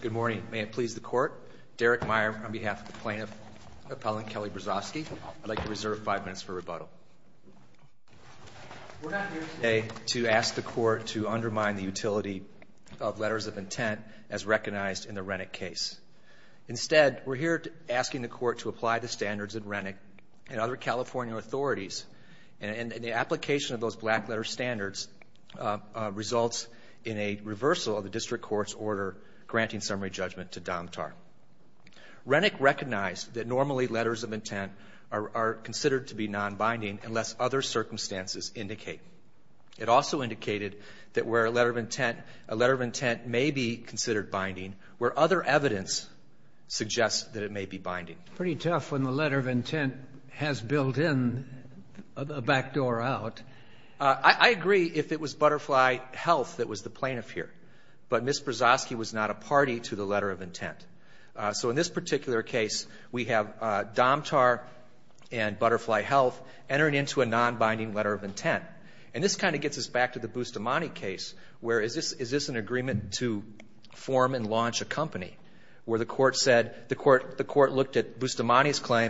Good morning. May it please the Court? Derek Meyer on behalf of the plaintiff, Appellant Kelly Brezoczky. I'd like to reserve five minutes for rebuttal. We're not here today to ask the Court to undermine the utility of letters of intent as recognized in the Rennick case. Instead, we're here asking the Court to apply the standards in Rennick and other California authorities. And the application of those to the Court's order granting summary judgment to Domtar. Rennick recognized that normally letters of intent are considered to be nonbinding unless other circumstances indicate. It also indicated that where a letter of intent may be considered binding, where other evidence suggests that it may be binding. Pretty tough when the letter of intent has built in a backdoor out. I agree if it was Butterfly Health that was the plaintiff here. But Ms. Brezoczky was not a party to the letter of intent. So in this particular case, we have Domtar and Butterfly Health entering into a nonbinding letter of intent. And this kind of gets us back to the Bustamante case, where is this an agreement to form and launch a company? Where the Court said, the Court looked at Bustamante's company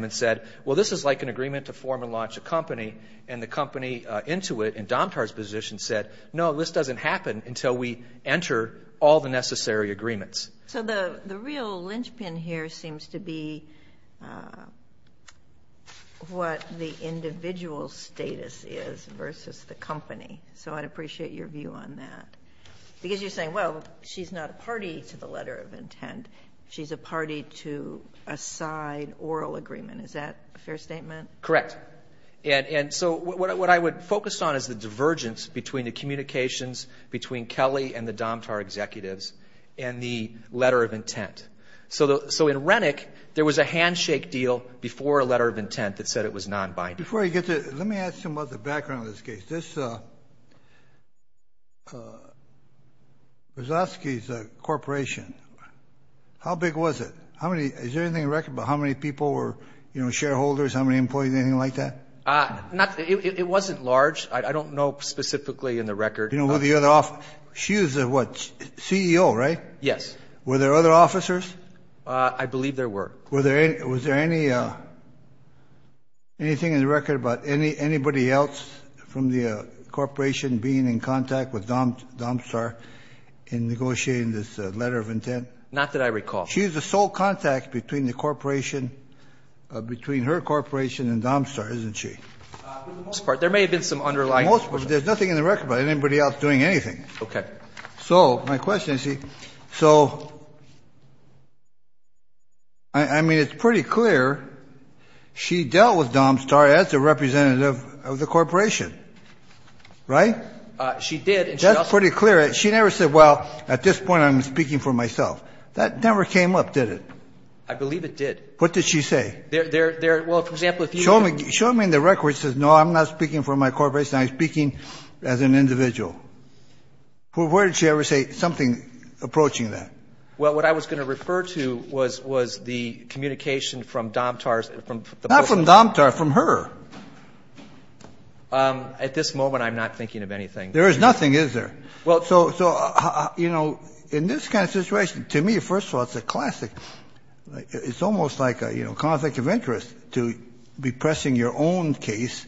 and the company into it in Domtar's position said, no, this doesn't happen until we enter all the necessary agreements. So the real linchpin here seems to be what the individual status is versus the company. So I'd appreciate your view on that. Because you're saying, well, she's not a party to the letter of intent. She's a party to a side oral agreement. Is that a fair statement? Correct. And so what I would focus on is the divergence between the communications between Kelly and the Domtar executives and the letter of intent. So in Rennick, there was a handshake deal before a letter of intent that said it was nonbinding. Before I get to it, let me ask you about the background of this case. Brezoczky is a corporation. How big was it? How many? Is there anything in record about how many people were, you know, shareholders, how many employees, anything like that? It wasn't large. I don't know specifically in the record. You know, were the other officers, she was a what, CEO, right? Yes. Were there other officers? I believe there were. Was there anything in the record about anybody else from the corporation being in contact with Domstar in negotiating this letter of intent? Not that I recall. She's the sole contact between the corporation, between her corporation and Domstar, isn't she? For the most part. There may have been some underlying questions. There's nothing in the record about anybody else doing anything. Okay. So my question is, so, I mean, it's pretty clear she dealt with Domstar as a representative of the corporation, right? She did. That's pretty clear. She never said, well, at this point I'm speaking for myself. That never came up, did it? I believe it did. What did she say? There, well, for example, if you can ---- Show me in the record that says, no, I'm not speaking for my corporation. I'm speaking as an individual. Where did she ever say something approaching that? Well, what I was going to refer to was the communication from Domstar's, from the ---- Not from Domstar. From her. At this moment, I'm not thinking of anything. There is nothing, is there? So, you know, in this kind of situation, to me, first of all, it's a classic. It's almost like a conflict of interest to be pressing your own case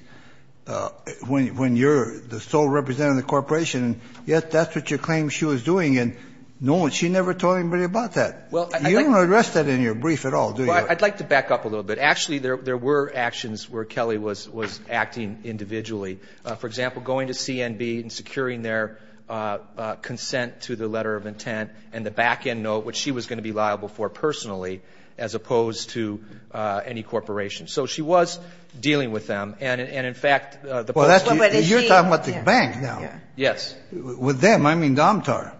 when you're the sole representative of the corporation, and yet that's what you claim she was doing, and no one, she never told anybody about that. You don't address that in your brief at all, do you? Well, I'd like to back up a little bit. Actually, there were actions where Kelly was acting individually. For example, going to CNB and securing their consent to the letter of intent and the back-end note, which she was going to be liable for personally, as opposed to any corporation. So she was dealing with them. And, in fact, the ---- You're talking about the bank now. Yes. With them, I mean Domstar.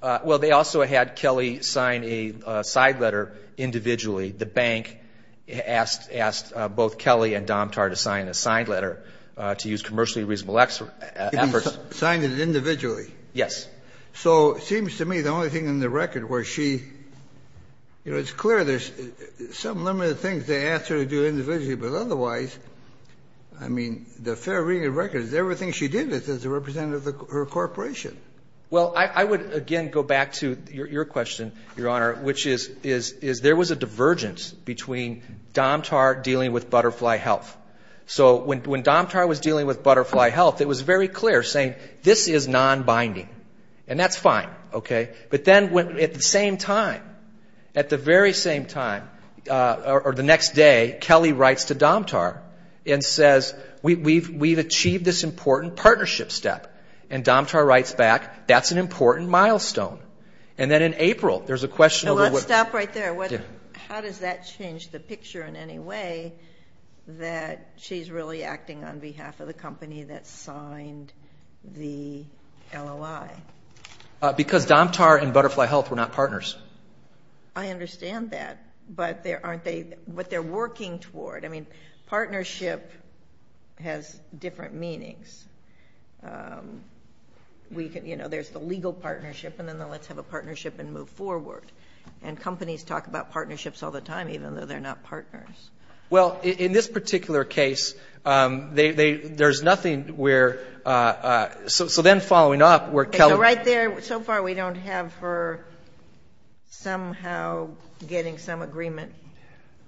Well, they also had Kelly sign a side letter individually. The bank asked both Kelly and Domstar to sign a side letter to use commercially reasonable efforts. Signed it individually. Yes. So it seems to me the only thing in the record was she, you know, it's clear there's some limited things they asked her to do individually, but otherwise, I mean, the fair reading of records, everything she did was as a representative of her corporation. Well, I would again go back to your question, Your Honor, which is there was a divergence between Domstar dealing with Butterfly Health. So when Domstar was dealing with Butterfly Health, it was very clear saying this is non-binding, and that's fine. But then at the same time, at the very same time, or the next day, Kelly writes to Domstar and says, we've achieved this important partnership step. And Domstar writes back, that's an important milestone. And then in April, there's a question of what ---- Now, let's stop right there. How does that change the picture in any way that she's really acting on behalf of the company that signed the LOI? Because Domstar and Butterfly Health were not partners. I understand that. But aren't they what they're working toward? I mean, partnership has different meanings. You know, there's the legal partnership, and then the let's have a partnership and move forward. And companies talk about partnerships all the time, even though they're not partners. Well, in this particular case, there's nothing where ---- so then following up, where Kelly ---- So right there, so far we don't have her somehow getting some agreement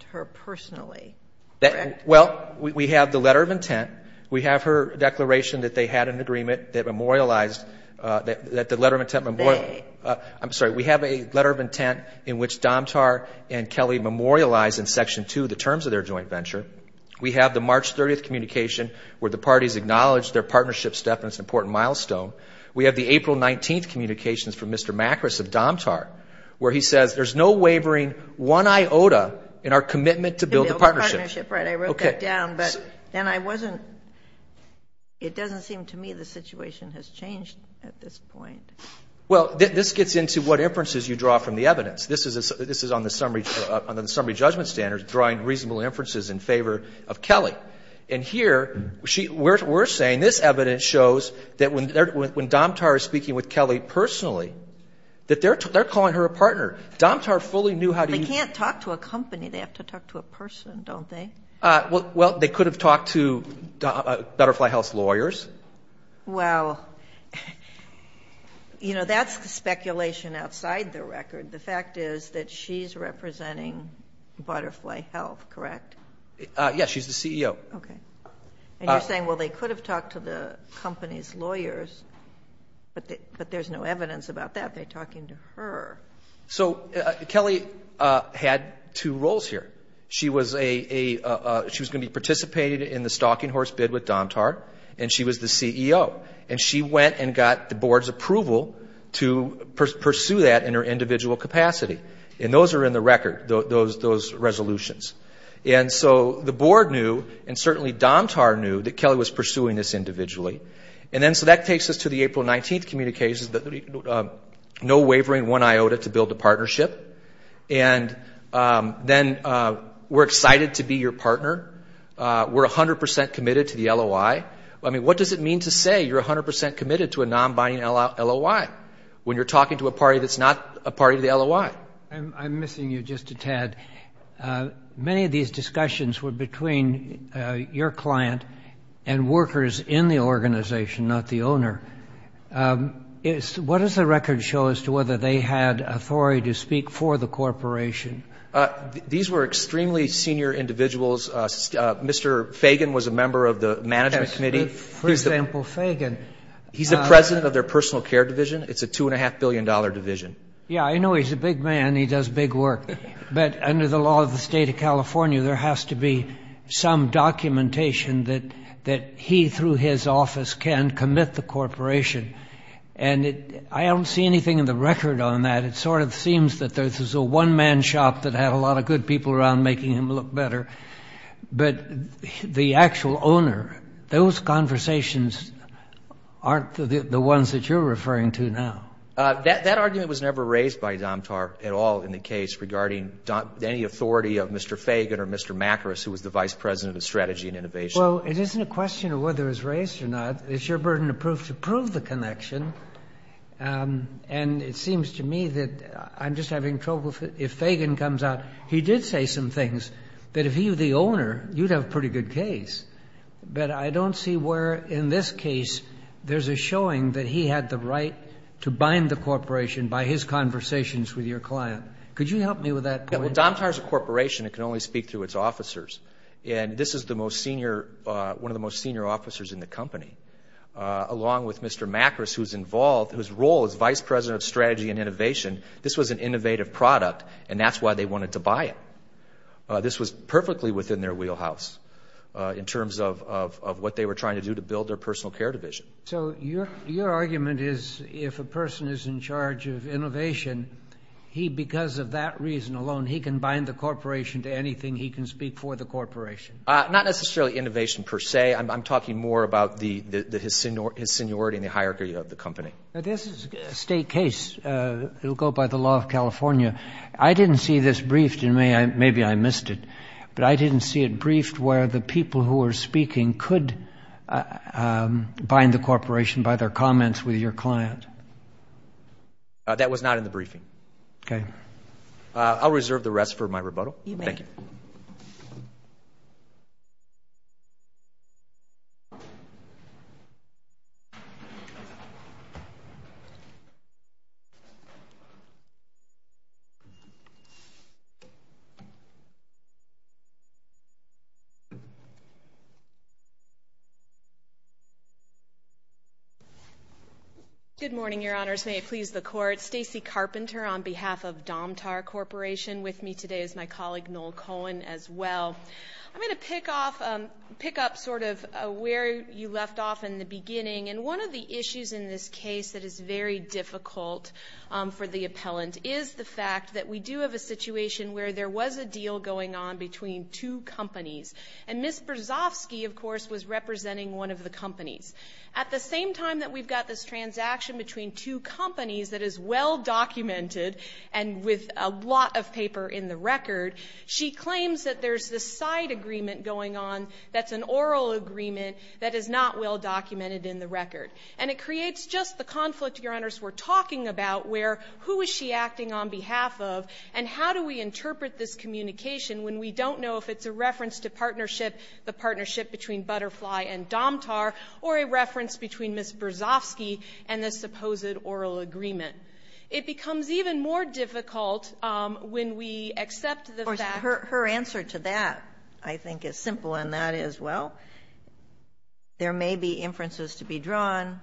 to her personally, correct? Well, we have the letter of intent. We have her declaration that they had an agreement that memorialized that the letter of intent ---- They. I'm sorry. We have a letter of intent in which Domstar and Kelly memorialized in Section 2 the terms of their joint venture. We have the March 30th communication where the parties acknowledge their partnership step, and it's an important milestone. We have the April 19th communications from Mr. Macris of Domstar where he says, there's no wavering one iota in our commitment to build the partnership. Right. I wrote that down, but then I wasn't ---- it doesn't seem to me the situation has changed at this point. Well, this gets into what inferences you draw from the evidence. This is on the summary judgment standards, drawing reasonable inferences in favor of Kelly. And here, we're saying this evidence shows that when Domstar is speaking with Kelly personally, that they're calling her a partner. Domstar fully knew how to use ---- They can't talk to a company. They have to talk to a person, don't they? Well, they could have talked to Butterfly Health's lawyers. Well, you know, that's the speculation outside the record. The fact is that she's representing Butterfly Health, correct? Yes, she's the CEO. Okay. And you're saying, well, they could have talked to the company's lawyers, but there's no evidence about that. They're talking to her. So Kelly had two roles here. She was going to be participating in the stalking horse bid with Domstar, and she was the CEO. And she went and got the board's approval to pursue that in her individual capacity. And those are in the record, those resolutions. And so the board knew, and certainly Domstar knew, that Kelly was pursuing this individually. And then so that takes us to the April 19th communications, the no wavering, one iota to build a partnership. And then we're excited to be your partner. We're 100% committed to the LOI. I mean, what does it mean to say you're 100% committed to a non-binding LOI when you're talking to a party that's not a party to the LOI? I'm missing you just a tad. Many of these discussions were between your client and workers in the organization, not the owner. What does the record show as to whether they had authority to speak for the corporation? These were extremely senior individuals. Mr. Fagan was a member of the management committee. For example, Fagan. He's the president of their personal care division. It's a $2.5 billion division. Yeah, I know he's a big man. He does big work. But under the law of the state of California, there has to be some documentation that he, through his office, can commit the corporation. And I don't see anything in the record on that. It sort of seems that there's a one-man shop that had a lot of good people around making him look better. But the actual owner, those conversations aren't the ones that you're referring to now. That argument was never raised by Domtar at all in the case regarding any authority of Mr. Fagan or Mr. Macris, who was the vice president of strategy and innovation. Well, it isn't a question of whether it was raised or not. It's your burden of proof to prove the connection. And it seems to me that I'm just having trouble. If Fagan comes out, he did say some things that if he were the owner, you'd have a pretty good case. But I don't see where, in this case, there's a showing that he had the right to bind the corporation by his conversations with your client. Could you help me with that point? Well, Domtar is a corporation. It can only speak through its officers. And this is one of the most senior officers in the company. Along with Mr. Macris, who's involved, whose role is vice president of strategy and innovation, this was an innovative product, and that's why they wanted to buy it. This was perfectly within their wheelhouse in terms of what they were trying to do to build their personal care division. So your argument is if a person is in charge of innovation, he, because of that reason alone, he can bind the corporation to anything he can speak for the corporation. Not necessarily innovation per se. I'm talking more about his seniority and the hierarchy of the company. This is a state case. It will go by the law of California. I didn't see this briefed. I mean, maybe I missed it, but I didn't see it briefed where the people who were speaking could bind the corporation by their comments with your client. That was not in the briefing. Okay. I'll reserve the rest for my rebuttal. Thank you. Good morning, Your Honors. I'm Stacey Carpenter on behalf of Domtar Corporation. With me today is my colleague Noel Cohen as well. I'm going to pick up sort of where you left off in the beginning, and one of the issues in this case that is very difficult for the appellant is the fact that we do have a situation where there was a deal going on between two companies, and Ms. Brzozowski, of course, was representing one of the companies. At the same time that we've got this transaction between two companies that is well documented and with a lot of paper in the record, she claims that there's this side agreement going on that's an oral agreement that is not well documented in the record. And it creates just the conflict, Your Honors, we're talking about where who is she acting on behalf of and how do we interpret this communication when we don't know if it's a reference to partnership, the partnership between Butterfly and Domtar, or a reference between Ms. Brzozowski and this supposed oral agreement. It becomes even more difficult when we accept the fact that her answer to that, I think, is simple, and that is, well, there may be inferences to be drawn.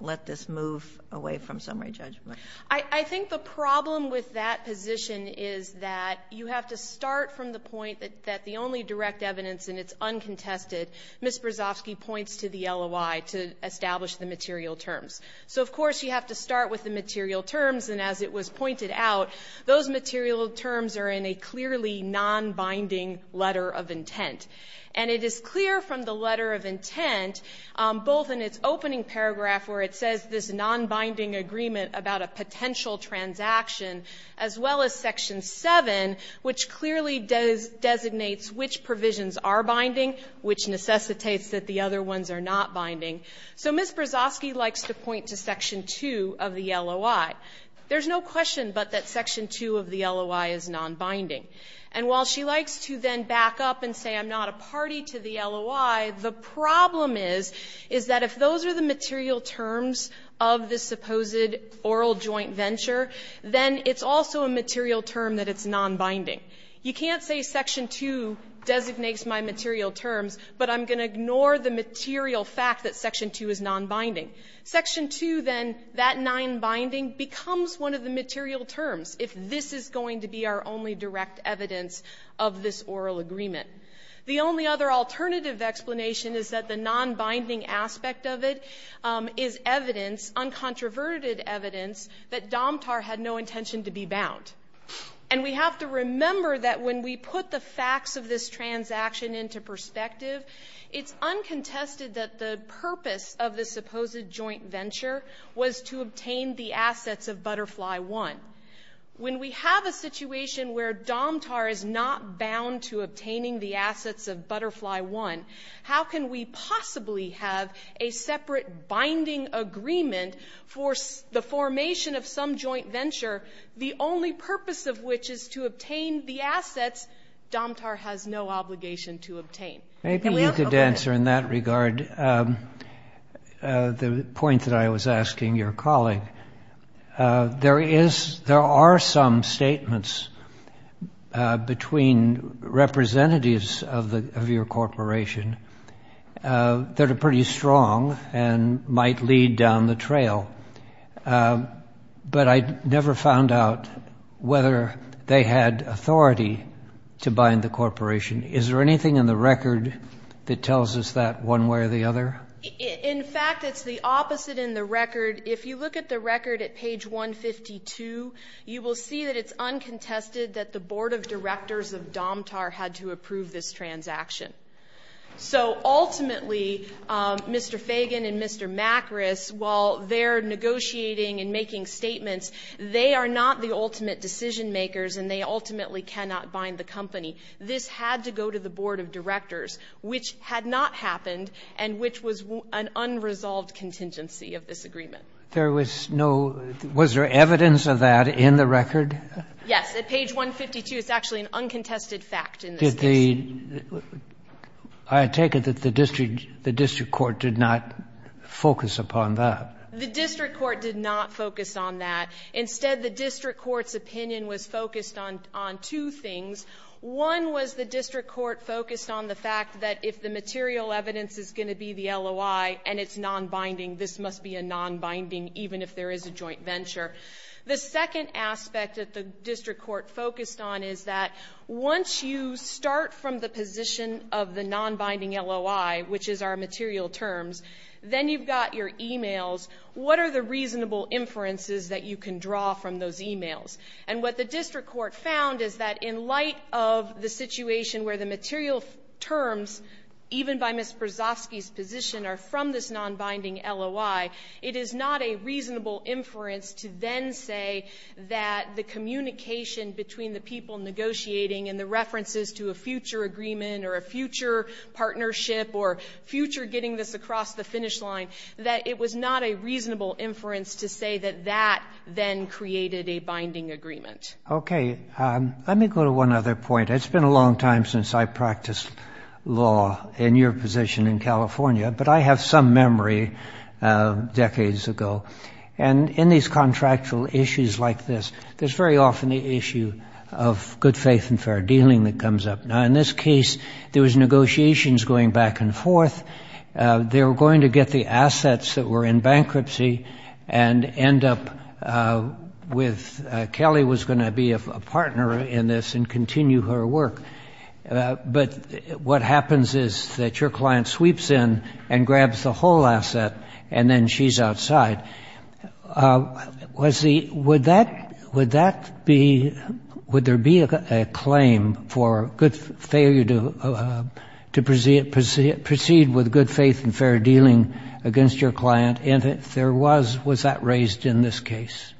Let this move away from summary judgment. I think the problem with that position is that you have to start from the point that the only direct evidence, and it's uncontested, Ms. Brzozowski points to the LOI to establish the material terms. So, of course, you have to start with the material terms, and as it was pointed out, those material terms are in a clearly nonbinding letter of intent. And it is clear from the letter of intent, both in its opening paragraph, where it says this nonbinding agreement about a potential transaction, as well as Section 7, which clearly designates which provisions are binding, which necessitates that the other ones are not binding. So Ms. Brzozowski likes to point to Section 2 of the LOI. There's no question but that Section 2 of the LOI is nonbinding. And while she likes to then back up and say I'm not a party to the LOI, the problem is, is that if those are the material terms of this supposed oral joint venture, then it's also a material term that it's nonbinding. You can't say Section 2 designates my material terms, but I'm going to ignore the material fact that Section 2 is nonbinding. Section 2 then, that nonbinding, becomes one of the material terms if this is going to be our only direct evidence of this oral agreement. The only other alternative explanation is that the nonbinding aspect of it is evidence, uncontroverted evidence, that Domtar had no intention to be bound. And we have to remember that when we put the facts of this transaction into perspective, it's uncontested that the purpose of the supposed joint venture was to obtain the assets of Butterfly One. When we have a situation where Domtar is not bound to obtaining the assets of Butterfly One, how can we possibly have a separate binding agreement for the formation of some joint venture, the only purpose of which is to obtain the assets Domtar has no obligation to obtain? Maybe you could answer in that regard the point that I was asking your colleague. There are some statements between representatives of your corporation that are pretty strong and might lead down the trail, but I never found out whether they had authority to bind the corporation. Is there anything in the record that tells us that one way or the other? In fact, it's the opposite in the record. If you look at the record at page 152, you will see that it's uncontested that the Board of Directors of Domtar had to approve this transaction. So ultimately, Mr. Fagan and Mr. Macris, while they're negotiating and making statements, they are not the ultimate decision makers and they ultimately cannot bind the company. This had to go to the Board of Directors, which had not happened and which was an unresolved contingency of this agreement. There was no – was there evidence of that in the record? Yes. At page 152, it's actually an uncontested fact in this case. Did the – I take it that the district court did not focus upon that. The district court did not focus on that. Instead, the district court's opinion was focused on two things. One was the district court focused on the fact that if the material evidence is going to be the LOI and it's nonbinding, this must be a nonbinding, even if there is a joint venture. The second aspect that the district court focused on is that once you start from the position of the nonbinding LOI, which is our material terms, then you've got your e-mails. What are the reasonable inferences that you can draw from those e-mails? And what the district court found is that in light of the situation where the material terms, even by Ms. Brzozowski's position, are from this nonbinding LOI, it is not a reasonable inference to then say that the communication between the people negotiating and the references to a future agreement or a future partnership or future getting this across the finish line, that it was not a reasonable inference to say that that then created a binding agreement. Okay. Let me go to one other point. It's been a long time since I practiced law in your position in California, but I have some memory decades ago. And in these contractual issues like this, there's very often the issue of good faith and fair dealing that comes up. Now, in this case, there was negotiations going back and forth. They were going to get the assets that were in bankruptcy and end up with—Kelly was But what happens is that your client sweeps in and grabs the whole asset and then she's outside. Was the—would that be—would there be a claim for good failure to proceed with good faith and fair dealing against your client? And if there was, was that raised in this case?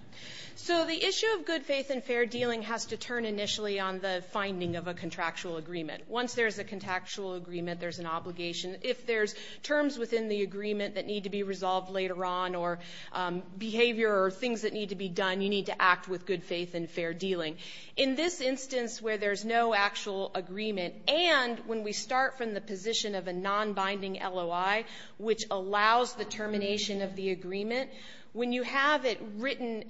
So the issue of good faith and fair dealing has to turn initially on the finding of a contractual agreement. Once there's a contractual agreement, there's an obligation. If there's terms within the agreement that need to be resolved later on or behavior or things that need to be done, you need to act with good faith and fair dealing. In this instance where there's no actual agreement and when we start from the position of a nonbinding LOI, which allows the termination of the agreement, when you have it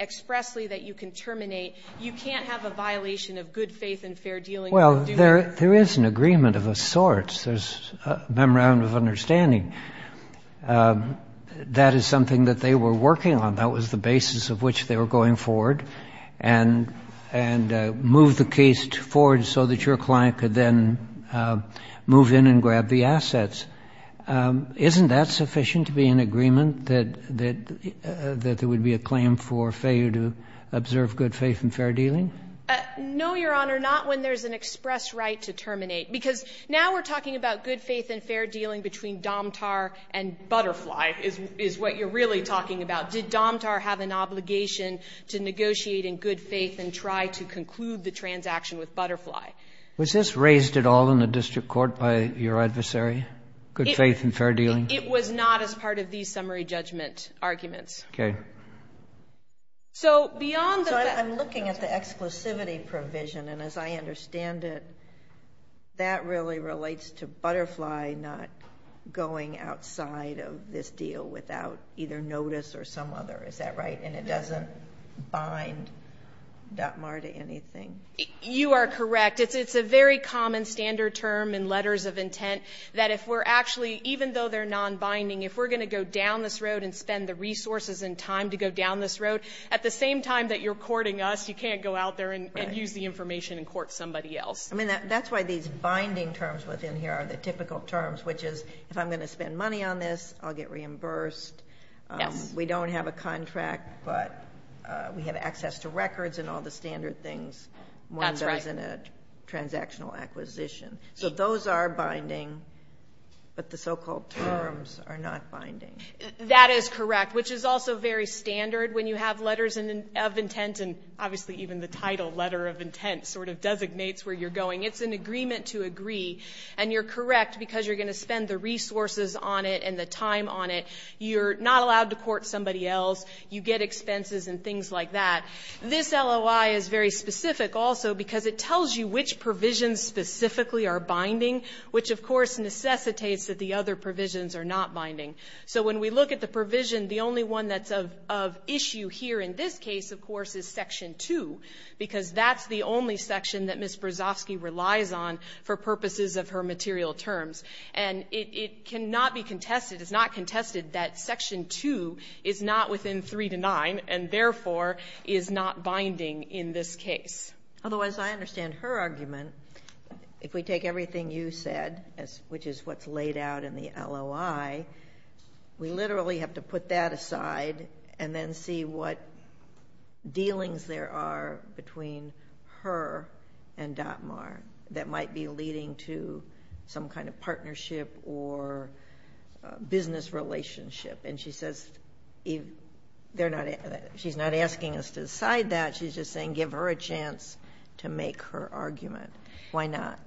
expressedly that you can terminate, you can't have a violation of good faith and fair dealing. Well, there is an agreement of a sort. There's a memorandum of understanding. That is something that they were working on. That was the basis of which they were going forward. And move the case forward so that your client could then move in and grab the assets. Isn't that sufficient to be in agreement, that there would be a claim for failure to observe good faith and fair dealing? No, Your Honor. Not when there's an express right to terminate. Because now we're talking about good faith and fair dealing between Domtar and Butterfly is what you're really talking about. Did Domtar have an obligation to negotiate in good faith and try to conclude the transaction with Butterfly? Was this raised at all in the district court by your adversary? Good faith and fair dealing? It was not as part of these summary judgment arguments. Okay. So beyond the... So I'm looking at the exclusivity provision. And as I understand it, that really relates to Butterfly not going outside of this deal without either notice or some other. Is that right? And it doesn't bind Domtar to anything? You are correct. It's a very common standard term in letters of intent that if we're actually, even though they're non-binding, if we're going to go down this road and spend the resources and time to go down this road, at the same time that you're courting us, you can't go out there and use the information and court somebody else. I mean, that's why these binding terms within here are the typical terms, which is if I'm going to spend money on this, I'll get reimbursed. We don't have a contract, but we have access to records and all the standard things one does in a transactional acquisition. So those are binding, but the so-called terms are not binding. That is correct, which is also very standard when you have letters of intent, and obviously even the title, Letter of Intent, sort of designates where you're going. It's an agreement to agree. And you're correct because you're going to spend the resources on it and the time on it. You're not allowed to court somebody else. You get expenses and things like that. This LOI is very specific also because it tells you which provisions specifically are binding, which, of course, necessitates that the other provisions are not binding. So when we look at the provision, the only one that's of issue here in this case, of course, is Section 2, because that's the only section that Ms. Brzozowski relies on for purposes of her material terms. And it cannot be contested, it's not contested that Section 2 is not within 3 to 9 and therefore is not binding in this case. Otherwise, I understand her argument. If we take everything you said, which is what's laid out in the LOI, we literally have to put that aside and then see what dealings there are between her and DOTMAR that might be leading to some kind of partnership or business relationship. And she says she's not asking us to decide that, she's just saying give her a chance to make her argument. Why not?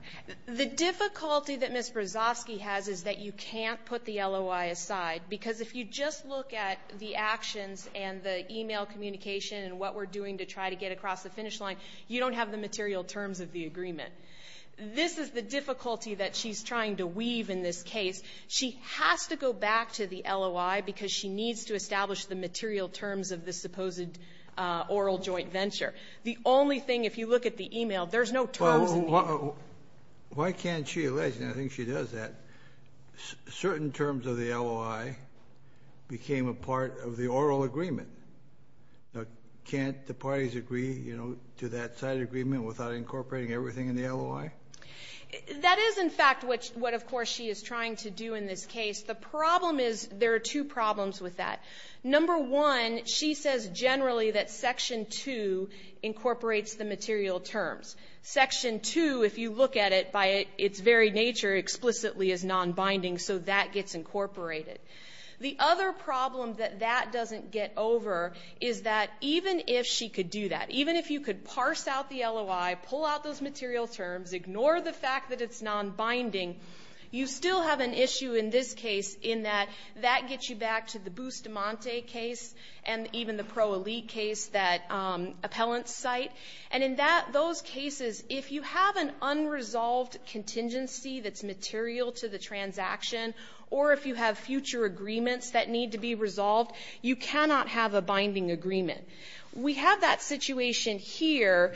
The difficulty that Ms. Brzozowski has is that you can't put the LOI aside because if you just look at the actions and the e-mail communication and what we're doing to try to get across the finish line, you don't have the material terms of the agreement. This is the difficulty that she's trying to weave in this case. She has to go back to the LOI because she needs to establish the material terms of this supposed oral joint venture. The only thing, if you look at the e-mail, there's no terms in the e-mail. Why can't she? I think she does that. Certain terms of the LOI became a part of the oral agreement. Can't the parties agree to that side agreement without incorporating everything in the LOI? That is, in fact, what, of course, she is trying to do in this case. The problem is there are two problems with that. Number one, she says generally that Section 2 incorporates the material terms. Section 2, if you look at it by its very nature, explicitly is non-binding, so that gets incorporated. The other problem that that doesn't get over is that even if she could do that, even if you could parse out the LOI, pull out those material terms, ignore the fact that it's non-binding, you still have an issue in this case in that that gets you back to the Bustamante case and even the Pro Elite case, that appellant site. And in those cases, if you have an unresolved contingency that's material to the transaction or if you have future agreements that need to be resolved, you cannot have a binding agreement. We have that situation here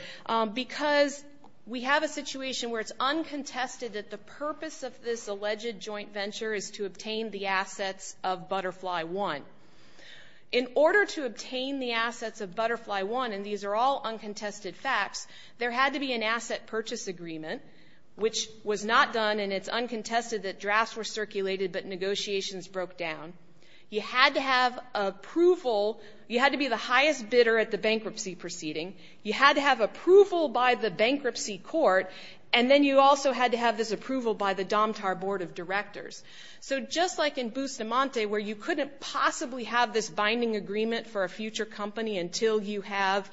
because we have a situation where it's uncontested that the purpose of this alleged joint venture is to obtain the assets of Butterfly One. In order to obtain the assets of Butterfly One, and these are all uncontested facts, there had to be an asset purchase agreement, which was not done, and it's uncontested that drafts were circulated but negotiations broke down. You had to have approval. You had to be the highest bidder at the bankruptcy proceeding. You had to have approval by the bankruptcy court, and then you also had to have this approval by the Domtar Board of Directors. So just like in Bustamante where you couldn't possibly have this binding agreement for a future company until you have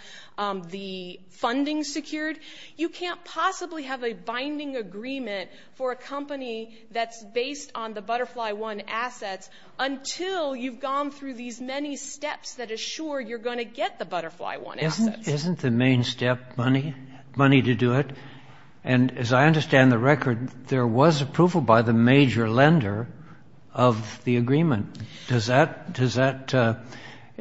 the funding secured, you can't possibly have a binding agreement for a company that's based on the Butterfly One assets until you've gone through these many steps that assure you're going to get the Butterfly One assets. Isn't the main step money, money to do it? And as I understand the record, there was approval by the major lender of the agreement. Does that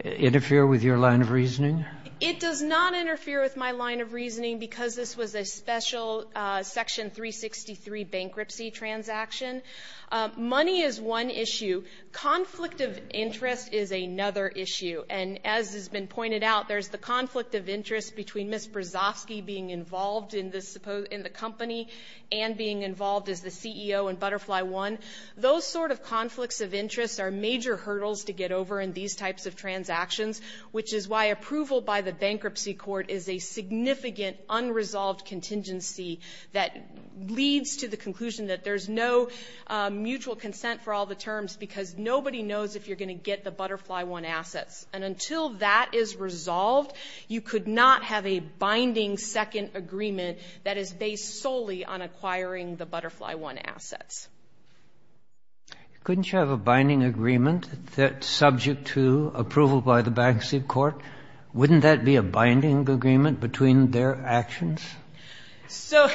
interfere with your line of reasoning? It does not interfere with my line of reasoning because this was a special Section 363 bankruptcy transaction. Money is one issue. Conflict of interest is another issue, and as has been pointed out, there's the conflict of interest between Ms. Brzozowski being involved in the company and being involved as the CEO in Butterfly One. Those sort of conflicts of interest are major hurdles to get over in these types of transactions, which is why approval by the bankruptcy court is a significant unresolved contingency that leads to the conclusion that there's no mutual consent for all the terms because nobody knows if you're going to get the Butterfly One assets. And until that is resolved, you could not have a binding second agreement that is based solely on acquiring the Butterfly One assets. Couldn't you have a binding agreement that's subject to approval by the bankruptcy court? Wouldn't that be a binding agreement between their actions? So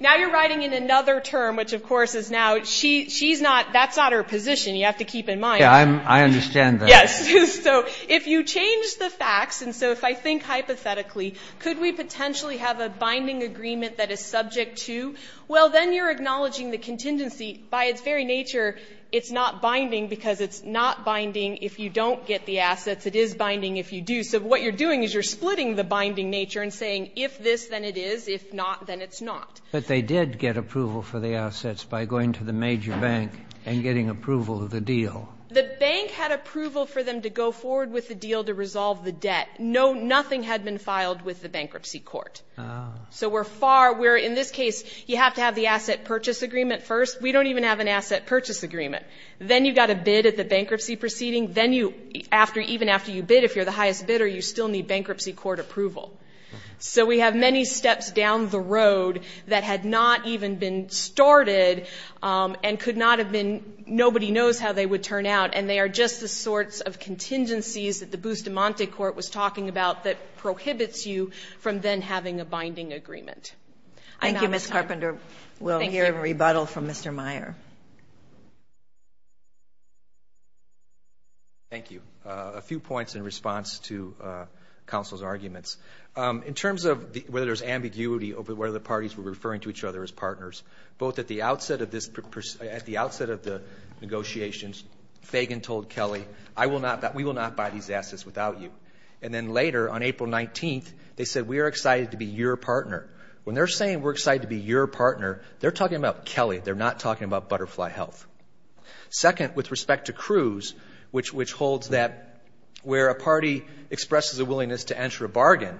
now you're writing in another term, which, of course, is now she's not, that's not her position. You have to keep in mind. Yeah, I understand that. Yes. So if you change the facts, and so if I think hypothetically, could we potentially have a binding agreement that is subject to? Well, then you're acknowledging the contingency. By its very nature, it's not binding because it's not binding if you don't get the assets. It is binding if you do. So what you're doing is you're splitting the binding nature and saying if this, then it is. If not, then it's not. But they did get approval for the assets by going to the major bank and getting approval of the deal. The bank had approval for them to go forward with the deal to resolve the debt. Nothing had been filed with the bankruptcy court. So we're far, we're, in this case, you have to have the asset purchase agreement first. We don't even have an asset purchase agreement. Then you've got to bid at the bankruptcy proceeding. Then you, even after you bid, if you're the highest bidder, you still need bankruptcy court approval. So we have many steps down the road that had not even been started and could not have been, nobody knows how they would turn out, and they are just the sorts of contingencies that the Bustamante court was talking about that prohibits you from then having a binding agreement. I'm out of time. Thank you, Ms. Carpenter. We'll hear a rebuttal from Mr. Meyer. Thank you. A few points in response to counsel's arguments. In terms of whether there's ambiguity over whether the parties were referring to each other as partners, both at the outset of this, at the outset of the negotiations, Fagan told Kelly, I will not, we will not buy these assets without you. And then later, on April 19th, they said, we are excited to be your partner. When they're saying we're excited to be your partner, they're talking about Kelly. They're not talking about Butterfly Health. Second, with respect to Cruz, which holds that where a party expresses a willingness to enter a bargain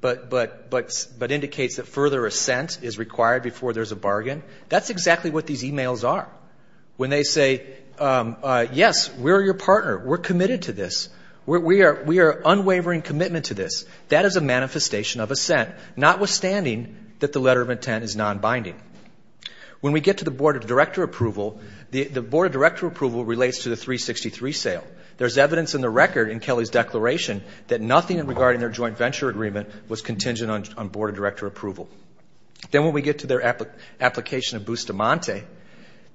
but indicates that further assent is required before there's a bargain, that's exactly what these e-mails are. When they say, yes, we're your partner, we're committed to this, we are unwavering commitment to this, that is a manifestation of assent, notwithstanding that the letter of intent is nonbinding. When we get to the Board of Director Approval, the Board of Director Approval relates to the 363 sale. There's evidence in the record in Kelly's declaration that nothing regarding their joint venture agreement was contingent on Board of Director Approval. Then when we get to their application of Bustamante,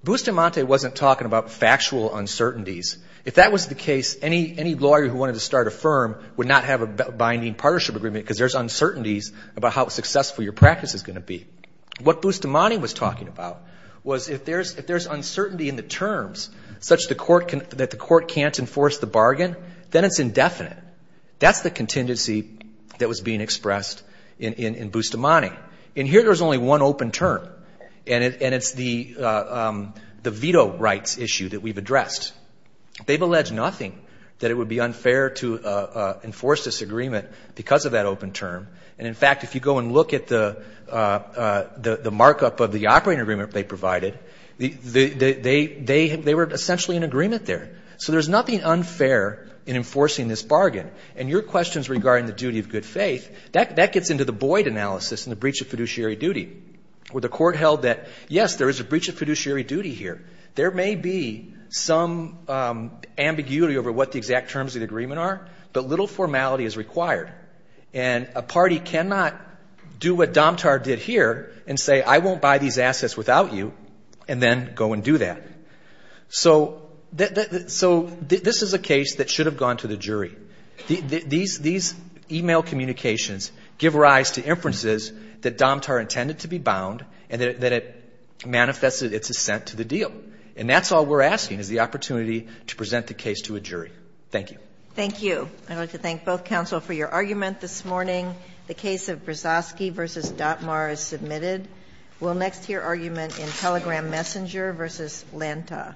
Bustamante wasn't talking about factual uncertainties. If that was the case, any lawyer who wanted to start a firm would not have a binding partnership agreement because there's uncertainties about how successful your practice is going to be. What Bustamante was talking about was if there's uncertainty in the terms, such that the court can't enforce the bargain, then it's indefinite. That's the contingency that was being expressed in Bustamante. And here there's only one open term, and it's the veto rights issue that we've addressed. They've alleged nothing that it would be unfair to enforce this agreement because of that open term. And, in fact, if you go and look at the markup of the operating agreement they provided, they were essentially in agreement there. So there's nothing unfair in enforcing this bargain. And your questions regarding the duty of good faith, that gets into the Boyd analysis and the breach of fiduciary duty, where the court held that, yes, there is a breach of fiduciary duty here. There may be some ambiguity over what the exact terms of the agreement are, but little formality is required. And a party cannot do what Domtar did here and say, I won't buy these assets without you, and then go and do that. So this is a case that should have gone to the jury. These e-mail communications give rise to inferences that Domtar intended to be bound and that it manifested its assent to the deal. And that's all we're asking, is the opportunity to present the case to a jury. Thank you. Thank you. I'd like to thank both counsel for your argument this morning. The case of Brzozowski v. Datmar is submitted. We'll next hear argument in Telegram Messenger v. Lanta.